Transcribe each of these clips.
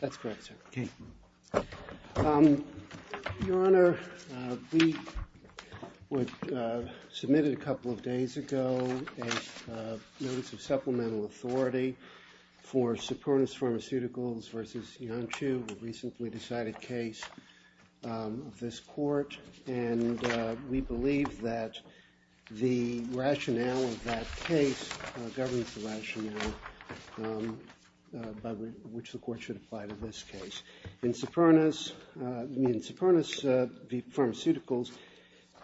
That's correct, sir. Okay. Your Honor, we submitted a couple of days ago a notice of supplemental authority for Supurna's Pharmaceuticals v. Iancu, a recently decided case of this court. And we believe that the rationale of that case governs the rationale by which the court should apply to this case. In Supurna's Pharmaceuticals,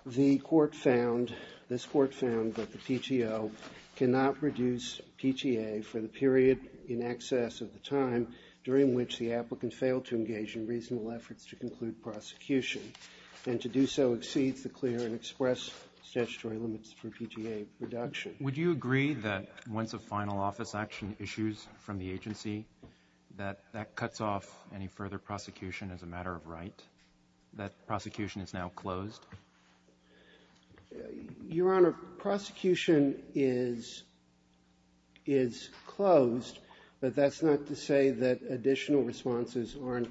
the court found, this court found that the PTO cannot reduce PTA for the period in excess of the time during which the applicant failed to do so exceeds the clear and express statutory limits for PTA reduction. Would you agree that once a final office action issues from the agency, that that cuts off any further prosecution as a matter of right, that prosecution is now closed? Your Honor, prosecution is closed, but that's not to say that additional responses aren't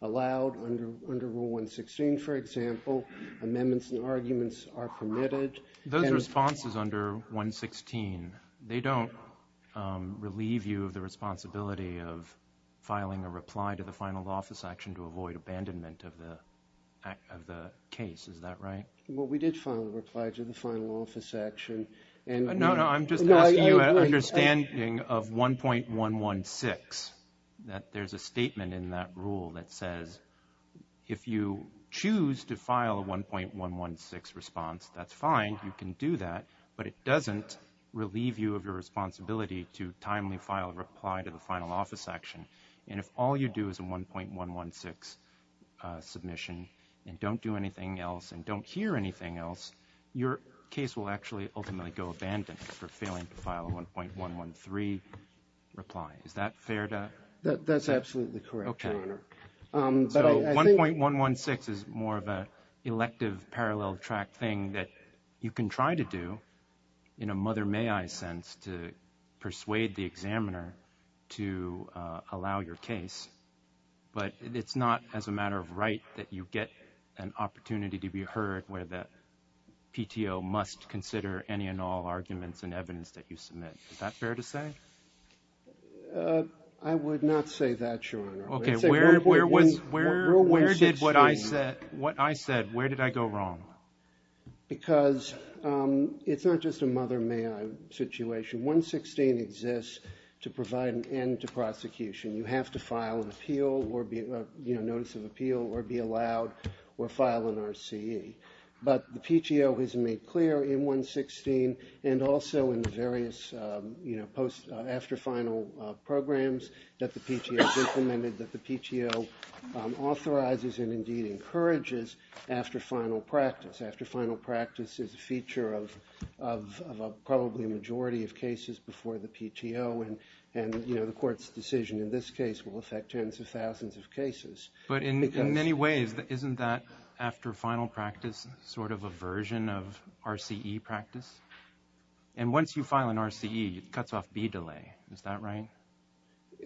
allowed under Rule 116, for example. Amendments and arguments are permitted. Those responses under 116, they don't relieve you of the responsibility of filing a reply to the final office action to avoid abandonment of the case. Is that right? Well, we did file a reply to the final office action. No, no, I'm just asking you an understanding of 1.116, that there's a statement in that rule that says if you choose to file a 1.116 response, that's fine, you can do that, but it doesn't relieve you of your responsibility to timely file a reply to the final office action. And if all you do is a 1.116 submission and don't do anything else and don't hear anything else, your case will actually ultimately go abandoned for failing to file a 1.113 reply. Is that fair to say? That's absolutely correct, Your Honor. Okay. So 1.116 is more of an elective parallel track thing that you can try to do in a mother may I sense to persuade the examiner to allow your case, but it's not as a matter of right that you get an opportunity to be heard where the PTO must consider any and all arguments and evidence that you submit. Is that fair to say? I would not say that, Your Honor. Okay, where did what I said, where did I go wrong? Because it's not just a mother may I situation. 1.116 exists to provide an end to prosecution. You have to file an appeal or be, you know, notice of appeal or be allowed or file an RCE. But the PTO has made clear in 1.116 and also in the various, you know, post after final programs that the PTO has implemented that the PTO authorizes and indeed encourages after final practice. After final practice is a feature of probably a majority of cases before the PTO and, you know, the court's decision in this case will affect tens of thousands of cases. But in many ways, isn't that after final practice sort of a version of RCE practice? And once you file an RCE, it cuts off be delay. Is that right?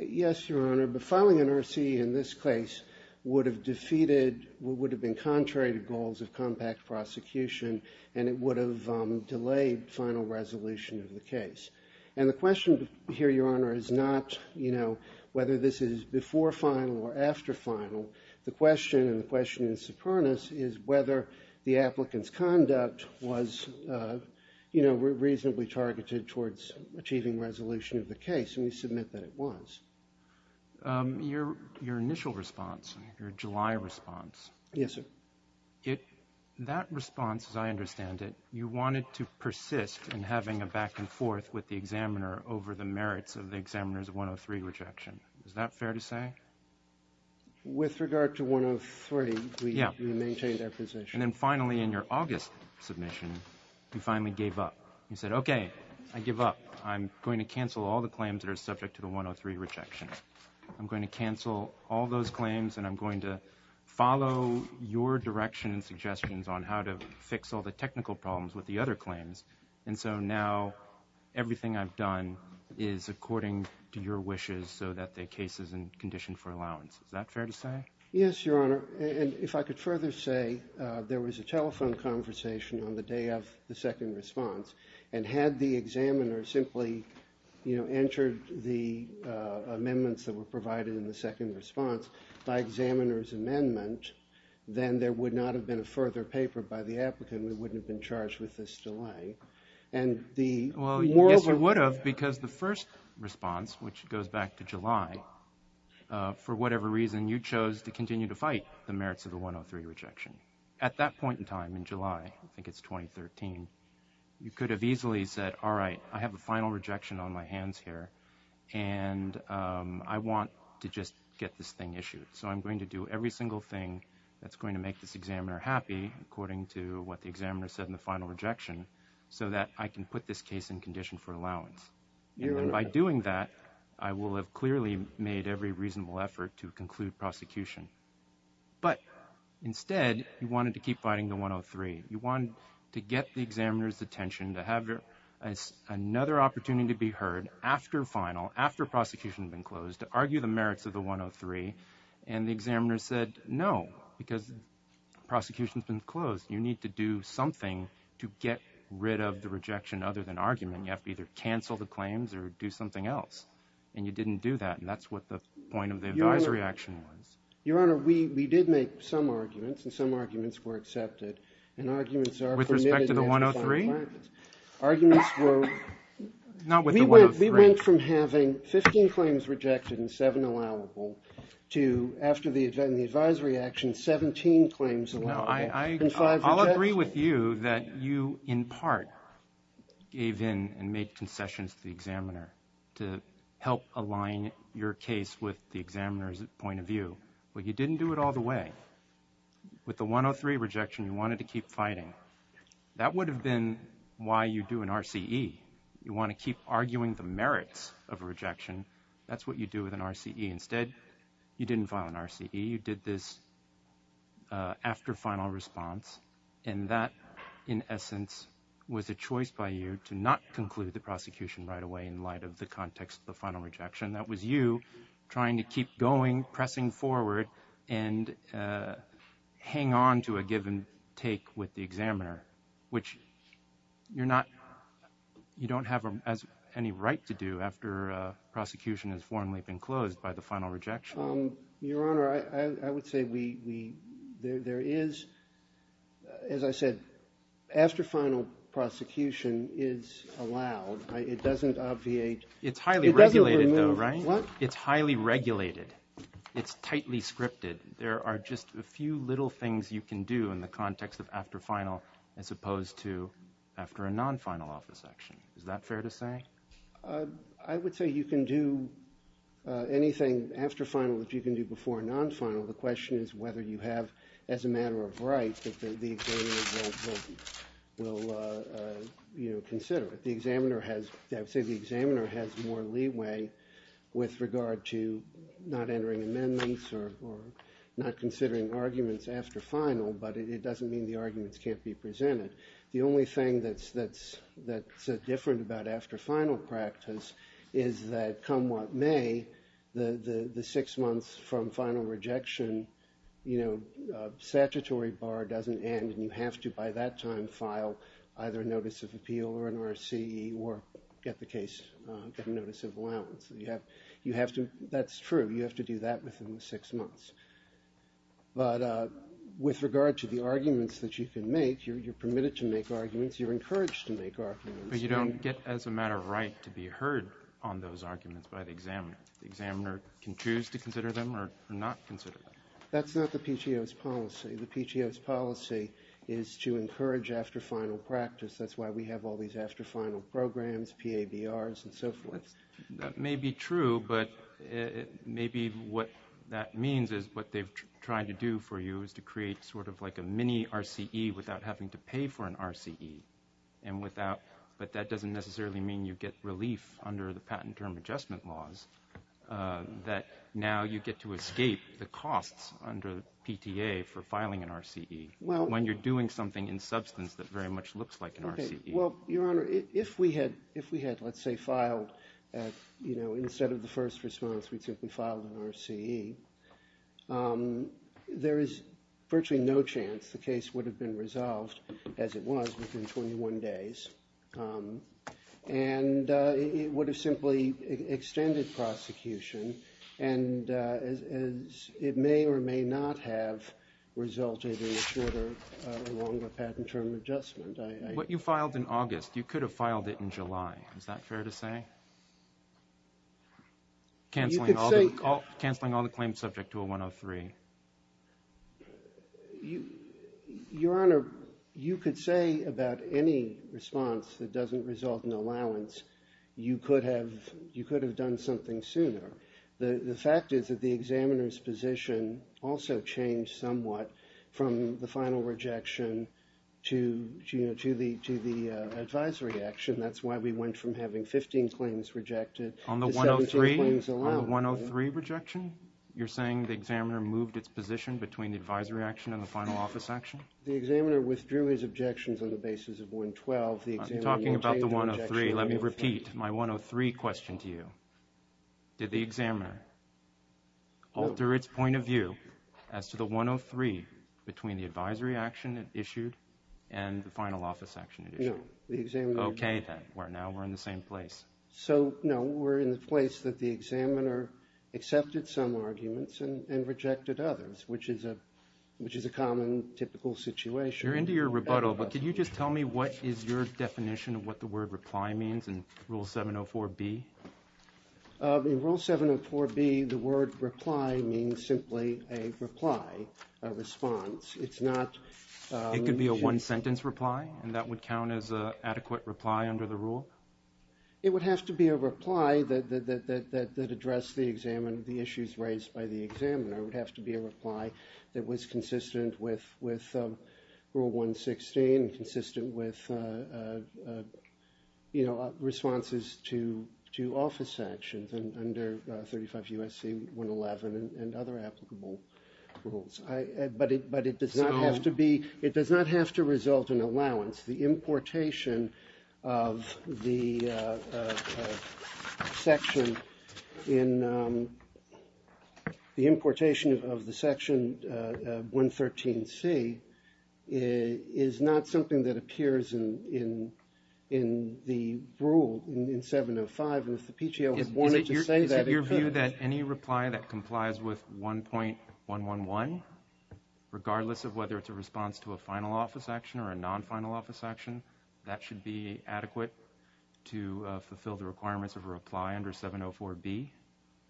Yes, Your Honor, but filing an RCE in this case would have defeated, would have been contrary to goals of compact prosecution, and it would have delayed final resolution of the case. And the question here, Your Honor, is not, you know, whether this is before final or after final. The question and the question in Sopranos is whether the applicant's conduct was, you know, reasonably targeted towards achieving resolution of the case, and we submit that it was. Your initial response, your July response. Yes, sir. That response, as I understand it, you wanted to persist in having a back and forth with the examiner over the merits of the examiner's 103 rejection. Is that fair to say? With regard to 103, we maintain that position. And then finally in your August submission, you finally gave up. You said, okay, I give up. I'm going to cancel all the claims that are subject to the 103 rejection. I'm going to cancel all those claims, and I'm going to follow your direction and suggestions on how to fix all the technical problems with the other claims. And so now everything I've done is according to your wishes so that the case is in condition for allowance. Is that fair to say? Yes, Your Honor. And if I could further say, there was a telephone conversation on the day of the second response, and had the examiner simply, you know, entered the amendments that were provided in the second response by examiner's amendment, then there would not have been a further paper by the applicant. We wouldn't have been charged with this delay. Well, yes, you would have because the first response, which goes back to July, for whatever reason you chose to continue to fight the merits of the 103 rejection. At that point in time, in July, I think it's 2013, you could have easily said, all right, I have a final rejection on my hands here, and I want to just get this thing issued. So I'm going to do every single thing that's going to make this examiner happy, according to what the examiner said in the final rejection, so that I can put this case in condition for allowance. And by doing that, I will have clearly made every reasonable effort to conclude prosecution. But instead, you wanted to keep fighting the 103. You wanted to get the examiner's attention to have another opportunity to be heard after final, after prosecution had been closed, to argue the merits of the 103, and the examiner said, no, because prosecution's been closed. You need to do something to get rid of the rejection other than argument. You have to either cancel the claims or do something else, and you didn't do that, and that's what the point of the advisory action was. Your Honor, we did make some arguments, and some arguments were accepted. With respect to the 103? We went from having 15 claims rejected and seven allowable to, after the advisory action, 17 claims allowable and five rejected. I'll agree with you that you, in part, gave in and made concessions to the examiner to help align your case with the examiner's point of view, but you didn't do it all the way. With the 103 rejection, you wanted to keep fighting. That would have been why you do an RCE. You want to keep arguing the merits of a rejection. That's what you do with an RCE. Instead, you didn't file an RCE. You did this after final response, and that, in essence, was a choice by you to not conclude the prosecution right away in light of the context of the final rejection. That was you trying to keep going, pressing forward, and hang on to a given take with the examiner, which you don't have any right to do after prosecution has formally been closed by the final rejection. Your Honor, I would say there is, as I said, after final prosecution is allowed. It doesn't obviate. It's highly regulated, though, right? What? It's highly regulated. It's tightly scripted. There are just a few little things you can do in the context of after final as opposed to after a non-final office action. Is that fair to say? I would say you can do anything after final that you can do before a non-final. The question is whether you have as a matter of right that the examiner will consider it. I would say the examiner has more leeway with regard to not entering amendments or not considering arguments after final, but it doesn't mean the arguments can't be presented. The only thing that's different about after final practice is that come what may, the six months from final rejection, you know, statutory bar doesn't end, and you have to by that time file either a notice of appeal or an RCE or get the notice of allowance. That's true. You have to do that within the six months. But with regard to the arguments that you can make, you're permitted to make arguments. You're encouraged to make arguments. But you don't get as a matter of right to be heard on those arguments by the examiner. The examiner can choose to consider them or not consider them. That's not the PTO's policy. The PTO's policy is to encourage after final practice. That's why we have all these after final programs, PABRs, and so forth. That may be true, but maybe what that means is what they've tried to do for you is to create sort of like a mini RCE without having to pay for an RCE, but that doesn't necessarily mean you get relief under the patent term adjustment laws, that now you get to escape the costs under PTA for filing an RCE when you're doing something in substance that very much looks like an RCE. Well, Your Honor, if we had, let's say, filed, you know, instead of the first response, we simply filed an RCE, there is virtually no chance the case would have been resolved, as it was, within 21 days, and it would have simply extended prosecution and it may or may not have resulted in a shorter or longer patent term adjustment. What you filed in August, you could have filed it in July. Is that fair to say? Canceling all the claims subject to a 103. Your Honor, you could say about any response that doesn't result in allowance, you could have done something sooner. The fact is that the examiner's position also changed somewhat from the final rejection to the advisory action. That's why we went from having 15 claims rejected to 17 claims allowed. On the 103 rejection, you're saying the examiner moved its position between the advisory action and the final office action? The examiner withdrew his objections on the basis of 112. I'm talking about the 103. Let me repeat my 103 question to you. Did the examiner alter its point of view as to the 103 between the advisory action it issued and the final office action it issued? No. The examiner did not. Okay, then. Now we're in the same place. No, we're in the place that the examiner accepted some arguments and rejected others, which is a common, typical situation. You're into your rebuttal, but could you just tell me what is your definition of what the word reply means in Rule 704B? In Rule 704B, the word reply means simply a reply, a response. It could be a one-sentence reply, and that would count as an adequate reply under the rule? It would have to be a reply that addressed the issues raised by the examiner. It would have to be a reply that was consistent with Rule 116 and consistent with responses to office actions under 35 U.S.C. 111 and other applicable rules. But it does not have to be—it does not have to result in allowance. The importation of the section in—the importation of the section 113C is not something that appears in the rule in 705, and if the PTO wanted to say that— Is it your view that any reply that complies with 1.111, regardless of whether it's a response to a final office action or a non-final office action, that should be adequate to fulfill the requirements of a reply under 704B?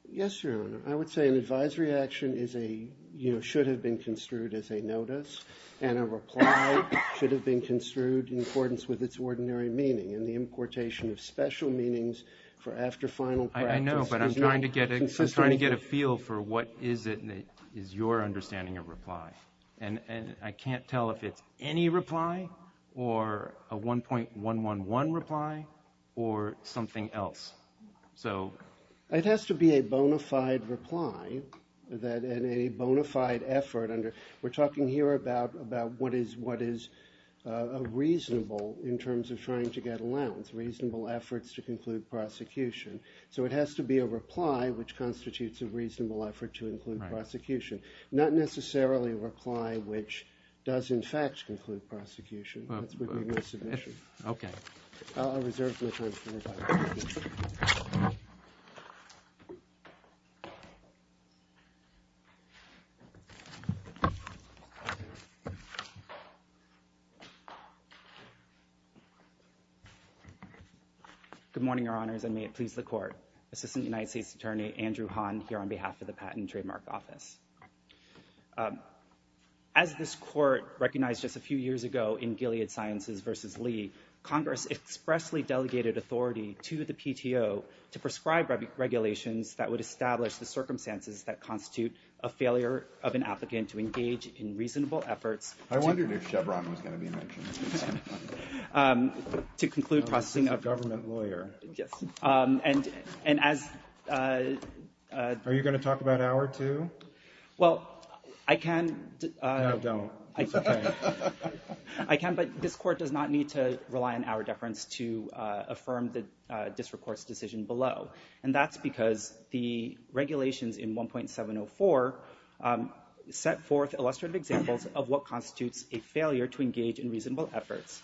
Yes, Your Honor. I would say an advisory action is a—you know, should have been construed as a notice, and a reply should have been construed in accordance with its ordinary meaning, and the importation of special meanings for after-final practice— I know, but I'm trying to get a feel for what is it that is your understanding of reply. And I can't tell if it's any reply or a 1.111 reply or something else. So— It has to be a bona fide reply that—and a bona fide effort under— we're talking here about what is reasonable in terms of trying to get allowance, reasonable efforts to conclude prosecution. So it has to be a reply which constitutes a reasonable effort to include prosecution, not necessarily a reply which does, in fact, conclude prosecution. That's what we mean by submission. Okay. I'll reserve the time for revising. Thank you. Thank you. Good morning, Your Honors, and may it please the Court. Assistant United States Attorney Andrew Hahn here on behalf of the Patent and Trademark Office. As this Court recognized just a few years ago in Gilead Sciences v. Lee, Congress expressly delegated authority to the PTO to prescribe regulations that would establish the circumstances that constitute a failure of an applicant to engage in reasonable efforts— I wondered if Chevron was going to be mentioned. —to conclude processing of— I'm just a government lawyer. Yes. And as— Are you going to talk about our two? Well, I can— No, don't. It's okay. I can, but this Court does not need to rely on our deference to affirm the district court's decision below, and that's because the regulations in 1.704 set forth illustrative examples of what constitutes a failure to engage in reasonable efforts.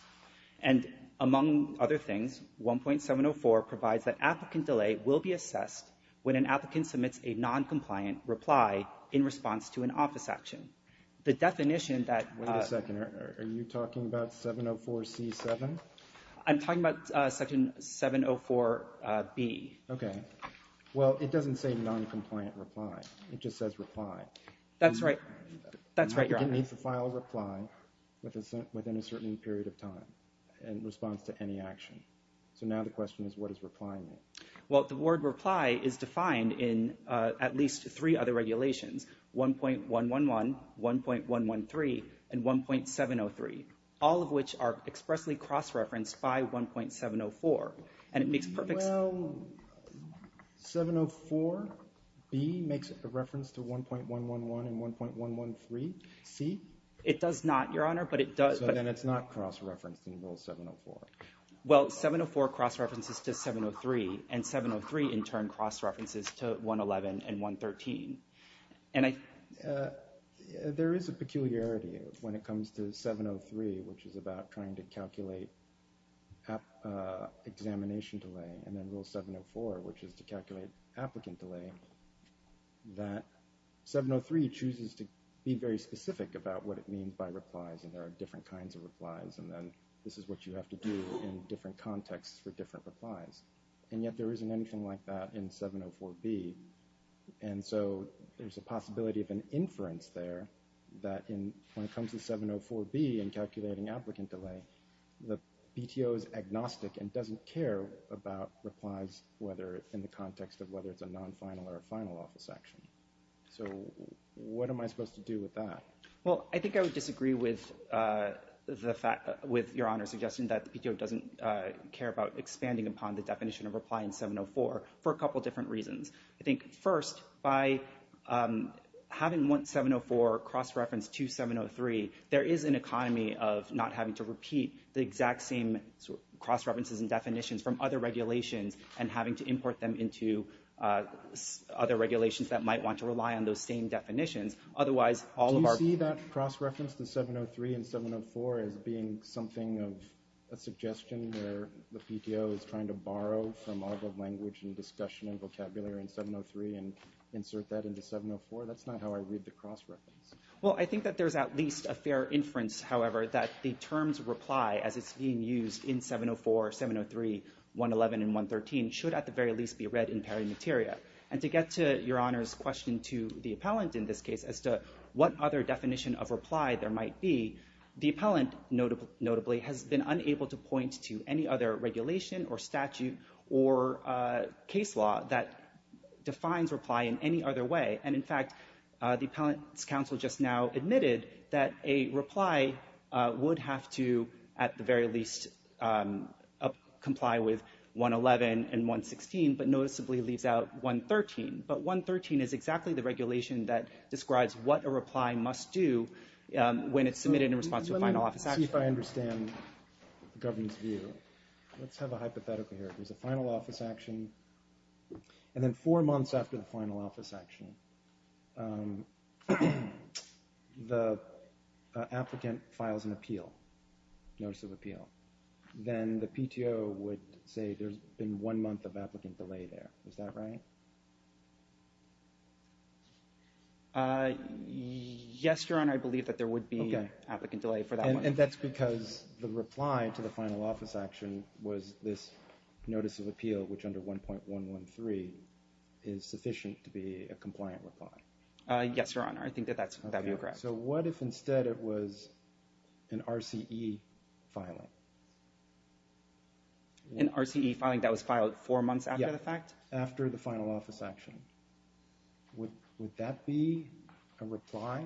And among other things, 1.704 provides that applicant delay will be assessed when an applicant submits a noncompliant reply in response to an office action. The definition that— Wait a second. Are you talking about 704C7? I'm talking about Section 704B. Okay. Well, it doesn't say noncompliant reply. It just says reply. That's right. That's right, Your Honor. An applicant needs to file a reply within a certain period of time in response to any action. So now the question is, what does reply mean? Well, the word reply is defined in at least three other regulations, 1.111, 1.113, and 1.703, all of which are expressly cross-referenced by 1.704. And it makes perfect sense— Well, 704B makes a reference to 1.111 and 1.113. C? It does not, Your Honor, but it does— So then it's not cross-referenced in Rule 704. Well, 704 cross-references to 703, and 703 in turn cross-references to 111 and 113. There is a peculiarity when it comes to 703, which is about trying to calculate examination delay, and then Rule 704, which is to calculate applicant delay, that 703 chooses to be very specific about what it means by replies, and there are different kinds of replies, and then this is what you have to do in different contexts for different replies. And yet there isn't anything like that in 704B. And so there's a possibility of an inference there that when it comes to 704B and calculating applicant delay, the PTO is agnostic and doesn't care about replies in the context of whether it's a non-final or a final office action. So what am I supposed to do with that? Well, I think I would disagree with Your Honor's suggestion that the PTO doesn't care about expanding upon the definition of reply in 704 for a couple different reasons. I think first, by having 704 cross-referenced to 703, there is an economy of not having to repeat the exact same cross-references and definitions from other regulations and having to import them into other regulations that might want to rely on those same definitions. Do you see that cross-reference to 703 and 704 as being something of a suggestion where the PTO is trying to borrow from all the language and discussion and vocabulary in 703 and insert that into 704? That's not how I read the cross-reference. Well, I think that there's at least a fair inference, however, that the terms reply as it's being used in 704, 703, 111, and 113 should at the very least be read in parimateria. And to get to Your Honor's question to the appellant in this case as to what other definition of reply there might be, the appellant, notably, has been unable to point to any other regulation or statute or case law that defines reply in any other way. And in fact, the appellant's counsel just now admitted that a reply would have to at the very least comply with 111 and 116, but noticeably leaves out 113. But 113 is exactly the regulation that describes what a reply must do when it's submitted in response to a final office action. Let me see if I understand the government's view. Let's have a hypothetical here. There's a final office action, and then four months after the final office action, the applicant files an appeal, notice of appeal. Then the PTO would say there's been one month of applicant delay there. Is that right? Yes, Your Honor. I believe that there would be applicant delay for that one. And that's because the reply to the final office action was this notice of appeal, which under 1.113 is sufficient to be a compliant reply. Yes, Your Honor. I think that that would be correct. All right, so what if instead it was an RCE filing? An RCE filing that was filed four months after the fact? Yes, after the final office action. Would that be a reply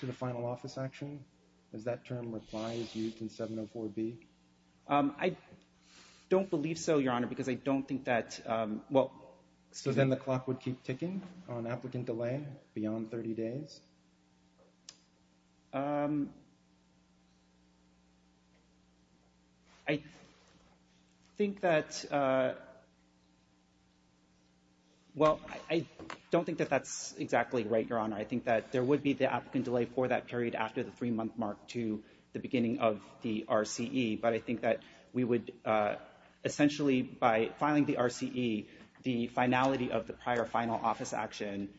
to the final office action? Does that term reply is used in 704B? I don't believe so, Your Honor, because I don't think that – well – So then the clock would keep ticking on applicant delay beyond 30 days? I think that – well, I don't think that that's exactly right, Your Honor. I think that there would be the applicant delay for that period after the three-month mark to the beginning of the RCE. But I think that we would – essentially, by filing the RCE, the finality of the prior final office action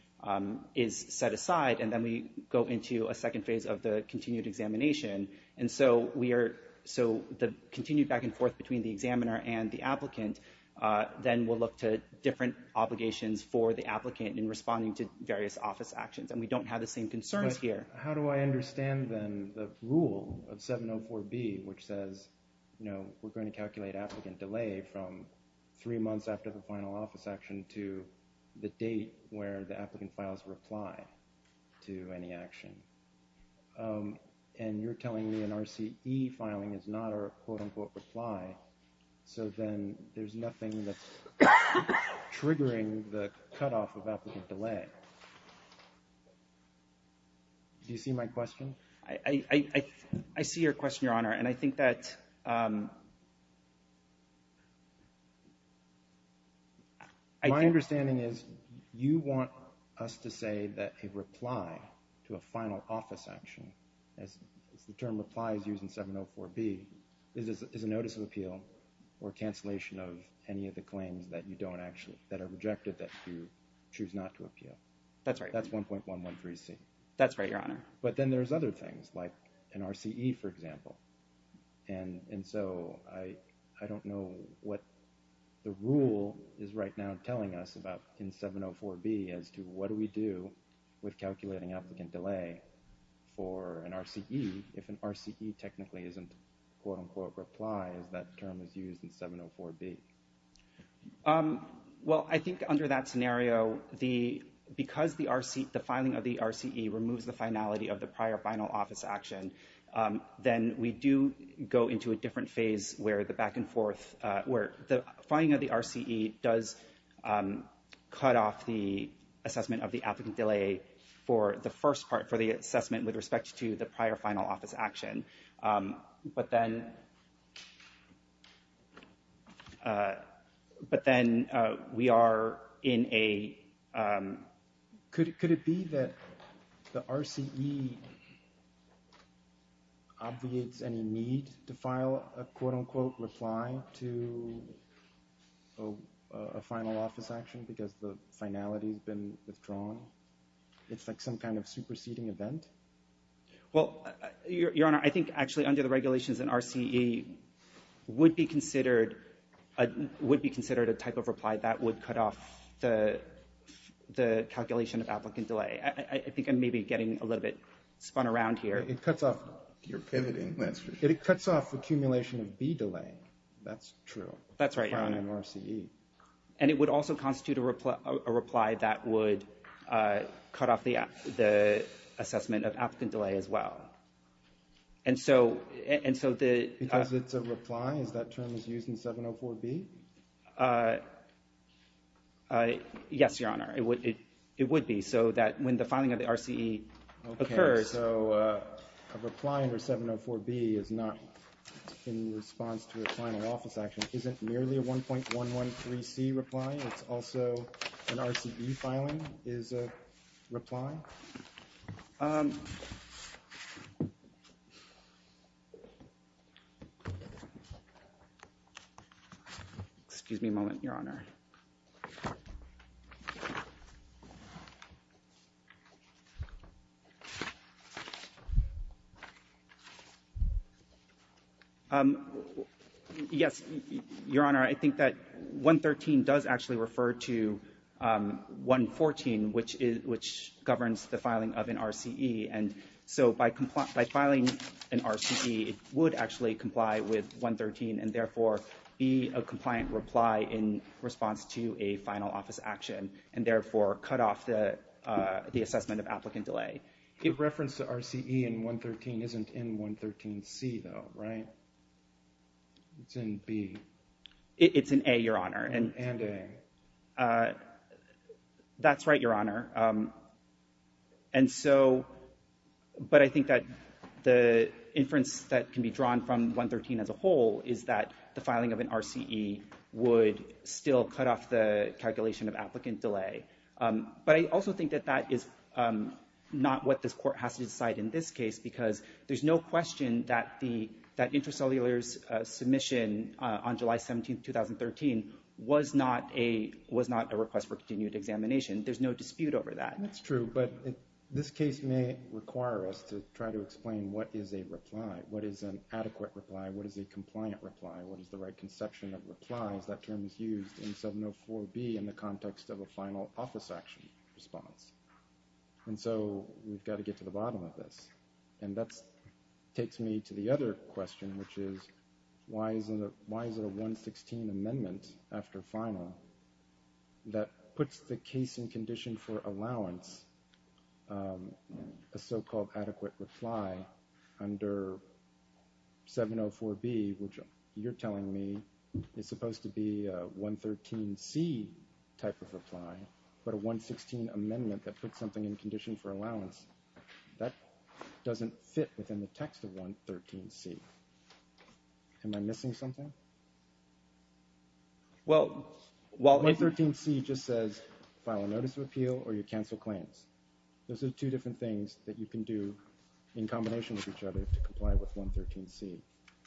is set aside, and then we go into a second phase of the continued examination. And so we are – so the continued back and forth between the examiner and the applicant, then we'll look to different obligations for the applicant in responding to various office actions. And we don't have the same concerns here. How do I understand, then, the rule of 704B, which says, you know, we're going to calculate applicant delay from three months after the final office action to the date where the applicant files reply to any action? And you're telling me an RCE filing is not a quote-unquote reply, so then there's nothing that's triggering the cutoff of applicant delay. Do you see my question? I see your question, Your Honor, and I think that – My understanding is you want us to say that a reply to a final office action, as the term replies use in 704B, is a notice of appeal or cancellation of any of the claims that you don't actually – that are rejected that you choose not to appeal. That's right. That's 1.113C. That's right, Your Honor. But then there's other things, like an RCE, for example. And so I don't know what the rule is right now telling us about in 704B as to what do we do with calculating applicant delay for an RCE if an RCE technically isn't a quote-unquote reply, as that term is used in 704B. Well, I think under that scenario, because the filing of the RCE removes the finality of the prior final office action, then we do go into a different phase where the back-and-forth – the filing of the RCE does cut off the assessment of the applicant delay for the first part, for the assessment with respect to the prior final office action. But then we are in a – Could it be that the RCE obviates any need to file a quote-unquote reply to a final office action because the finality has been withdrawn? It's like some kind of superseding event? Well, Your Honor, I think actually under the regulations, an RCE would be considered a type of reply that would cut off the calculation of applicant delay. I think I'm maybe getting a little bit spun around here. You're pivoting, that's for sure. It cuts off the accumulation of B delay. That's true. That's right, Your Honor. And it would also constitute a reply that would cut off the assessment of applicant delay as well. And so the – Because it's a reply? Is that term used in 704B? Yes, Your Honor, it would be. So that when the filing of the RCE occurs – Okay, so a reply under 704B is not in response to a final office action. It isn't merely a 1.113C reply? It's also an RCE filing is a reply? Excuse me a moment, Your Honor. Yes, Your Honor, I think that 1.113 does actually refer to 1.114, which governs the filing of an RCE. And so by filing an RCE, it would actually comply with 1.113 and therefore be a compliant reply in response to a final office action and therefore cut off the assessment of applicant delay. The reference to RCE in 1.113 isn't in 1.113C though, right? It's in B. It's in A, Your Honor. And A. That's right, Your Honor. And so, but I think that the inference that can be drawn from 1.113 as a whole is that the filing of an RCE would still cut off the calculation of applicant delay. But I also think that that is not what this court has to decide in this case because there's no question that intracellular's submission on July 17, 2013 was not a request for continued examination. There's no dispute over that. That's true. But this case may require us to try to explain what is a reply, what is an adequate reply, what is a compliant reply, what is the right conception of replies. That term is used in 704B in the context of a final office action response. And so we've got to get to the bottom of this. And that takes me to the other question, which is why is it a 116 amendment after final that puts the case in condition for allowance, a so-called adequate reply under 704B, which you're telling me is supposed to be a 113C type of reply, but a 116 amendment that puts something in condition for allowance. That doesn't fit within the text of 113C. Am I missing something? 113C just says file a notice of appeal or you cancel claims. Those are two different things that you can do in combination with each other to comply with 113C.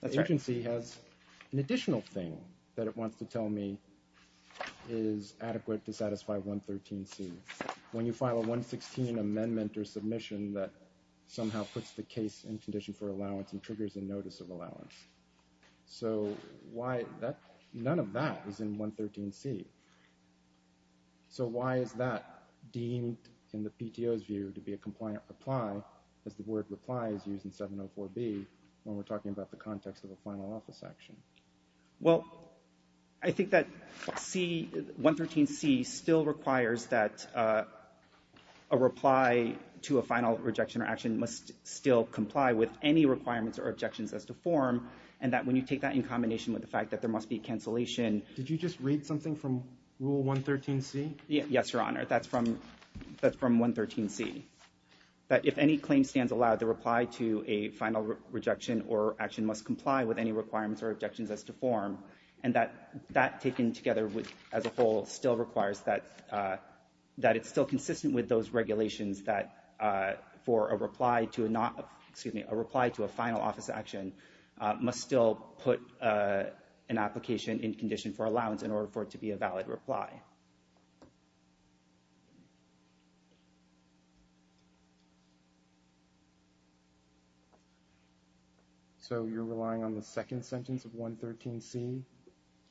The agency has an additional thing that it wants to tell me is adequate to satisfy 113C. When you file a 116 amendment or submission that somehow puts the case in condition for allowance and triggers a notice of allowance. So none of that is in 113C. So why is that deemed in the PTO's view to be a compliant reply as the word reply is used in 704B when we're talking about the context of a final office action? Well, I think that 113C still requires that a reply to a final rejection or action must still comply with any requirements or objections as to form and that when you take that in combination with the fact that there must be cancellation. Did you just read something from Rule 113C? Yes, Your Honor. That's from 113C. That if any claim stands allowed, the reply to a final rejection or action must comply with any requirements or objections as to form and that taken together as a whole still requires that it's still consistent with those regulations that for a reply to a final office action must still put an application in condition for allowance in order for it to be a valid reply. Okay. So you're relying on the second sentence of 113C?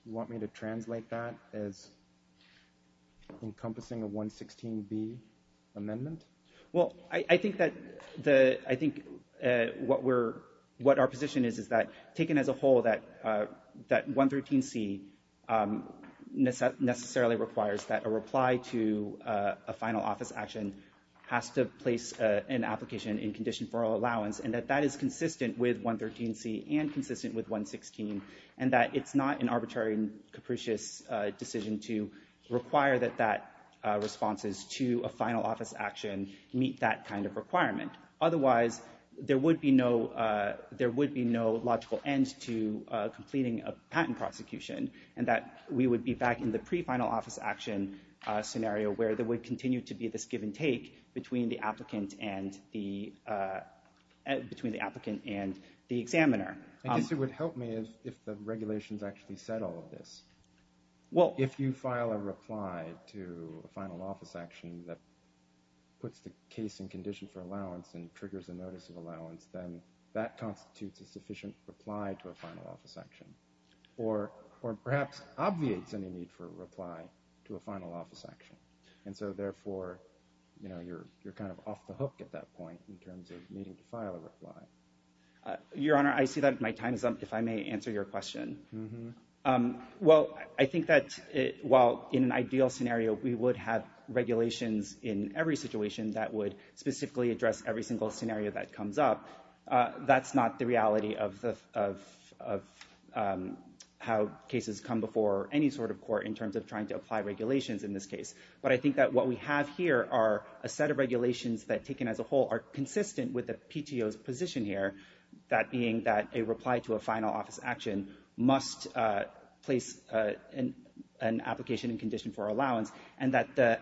You want me to translate that as encompassing a 116B amendment? Well, I think that what our position is is that taken as a whole that 113C necessarily requires that a reply to a final office action has to place an application in condition for allowance and that that is consistent with 113C and consistent with 116 and that it's not an arbitrary and capricious decision to require that that responses to a final office action meet that kind of requirement. Otherwise, there would be no logical end to completing a patent prosecution and that we would be back in the pre-final office action scenario where there would continue to be this give and take between the applicant and the examiner. I guess it would help me if the regulations actually said all of this. If you file a reply to a final office action that puts the case in condition for allowance and triggers a notice of allowance, then that constitutes a sufficient reply to a final office action or perhaps obviates any need for a reply to a final office action. And so, therefore, you're kind of off the hook at that point in terms of needing to file a reply. Your Honor, I see that my time is up if I may answer your question. Well, I think that while in an ideal scenario, we would have regulations in every situation that would specifically address every single scenario that comes up, that's not the reality of how cases come before any sort of court in terms of trying to apply regulations in this case. But I think that what we have here are a set of regulations that, taken as a whole, are consistent with the PTO's position here, that being that a reply to a final office action must place an application in condition for allowance and that the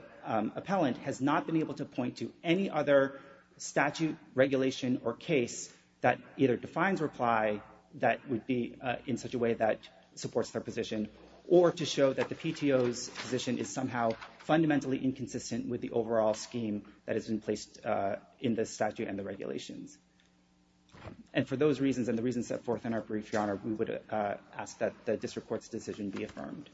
appellant has not been able to point to any other statute, regulation or case that either defines reply that would be in such a way that supports their position or to show that the PTO's position is somehow fundamentally inconsistent with the overall scheme that has been placed in the statute and the regulations. We would ask that the district court's decision be affirmed.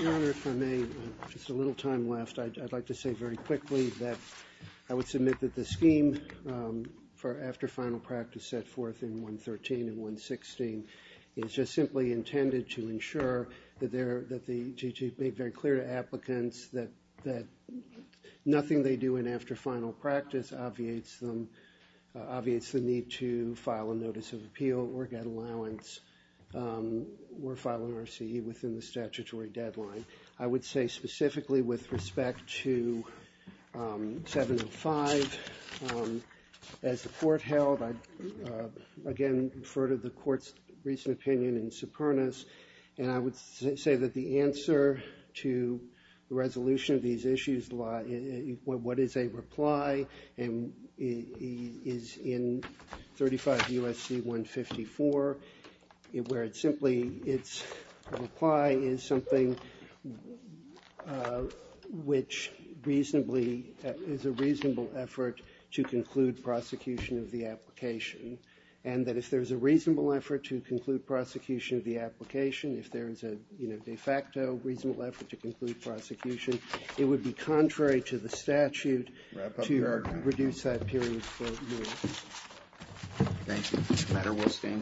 Your Honor, if I may, I have just a little time left. I'd like to say very quickly that I would submit that the scheme for after final practice set forth in 113 and 116 is just simply intended to ensure that they're, to be very clear to applicants that nothing they do in after final practice obviates the need to file a notice of appeal or get allowance or file an RCE within the statutory deadline. I would say specifically with respect to 705, as the court held, I'd again refer to the court's recent opinion in supernus, and I would say that the answer to the resolution of these issues, what is a reply, is in 35 U.S.C. 154, where it's simply, it's a reply is something which reasonably, is a reasonable effort to conclude prosecution of the application and that if there's a reasonable effort to conclude prosecution of the application, if there's a de facto reasonable effort to conclude prosecution, it would be contrary to the statute to reduce that period. Thank you.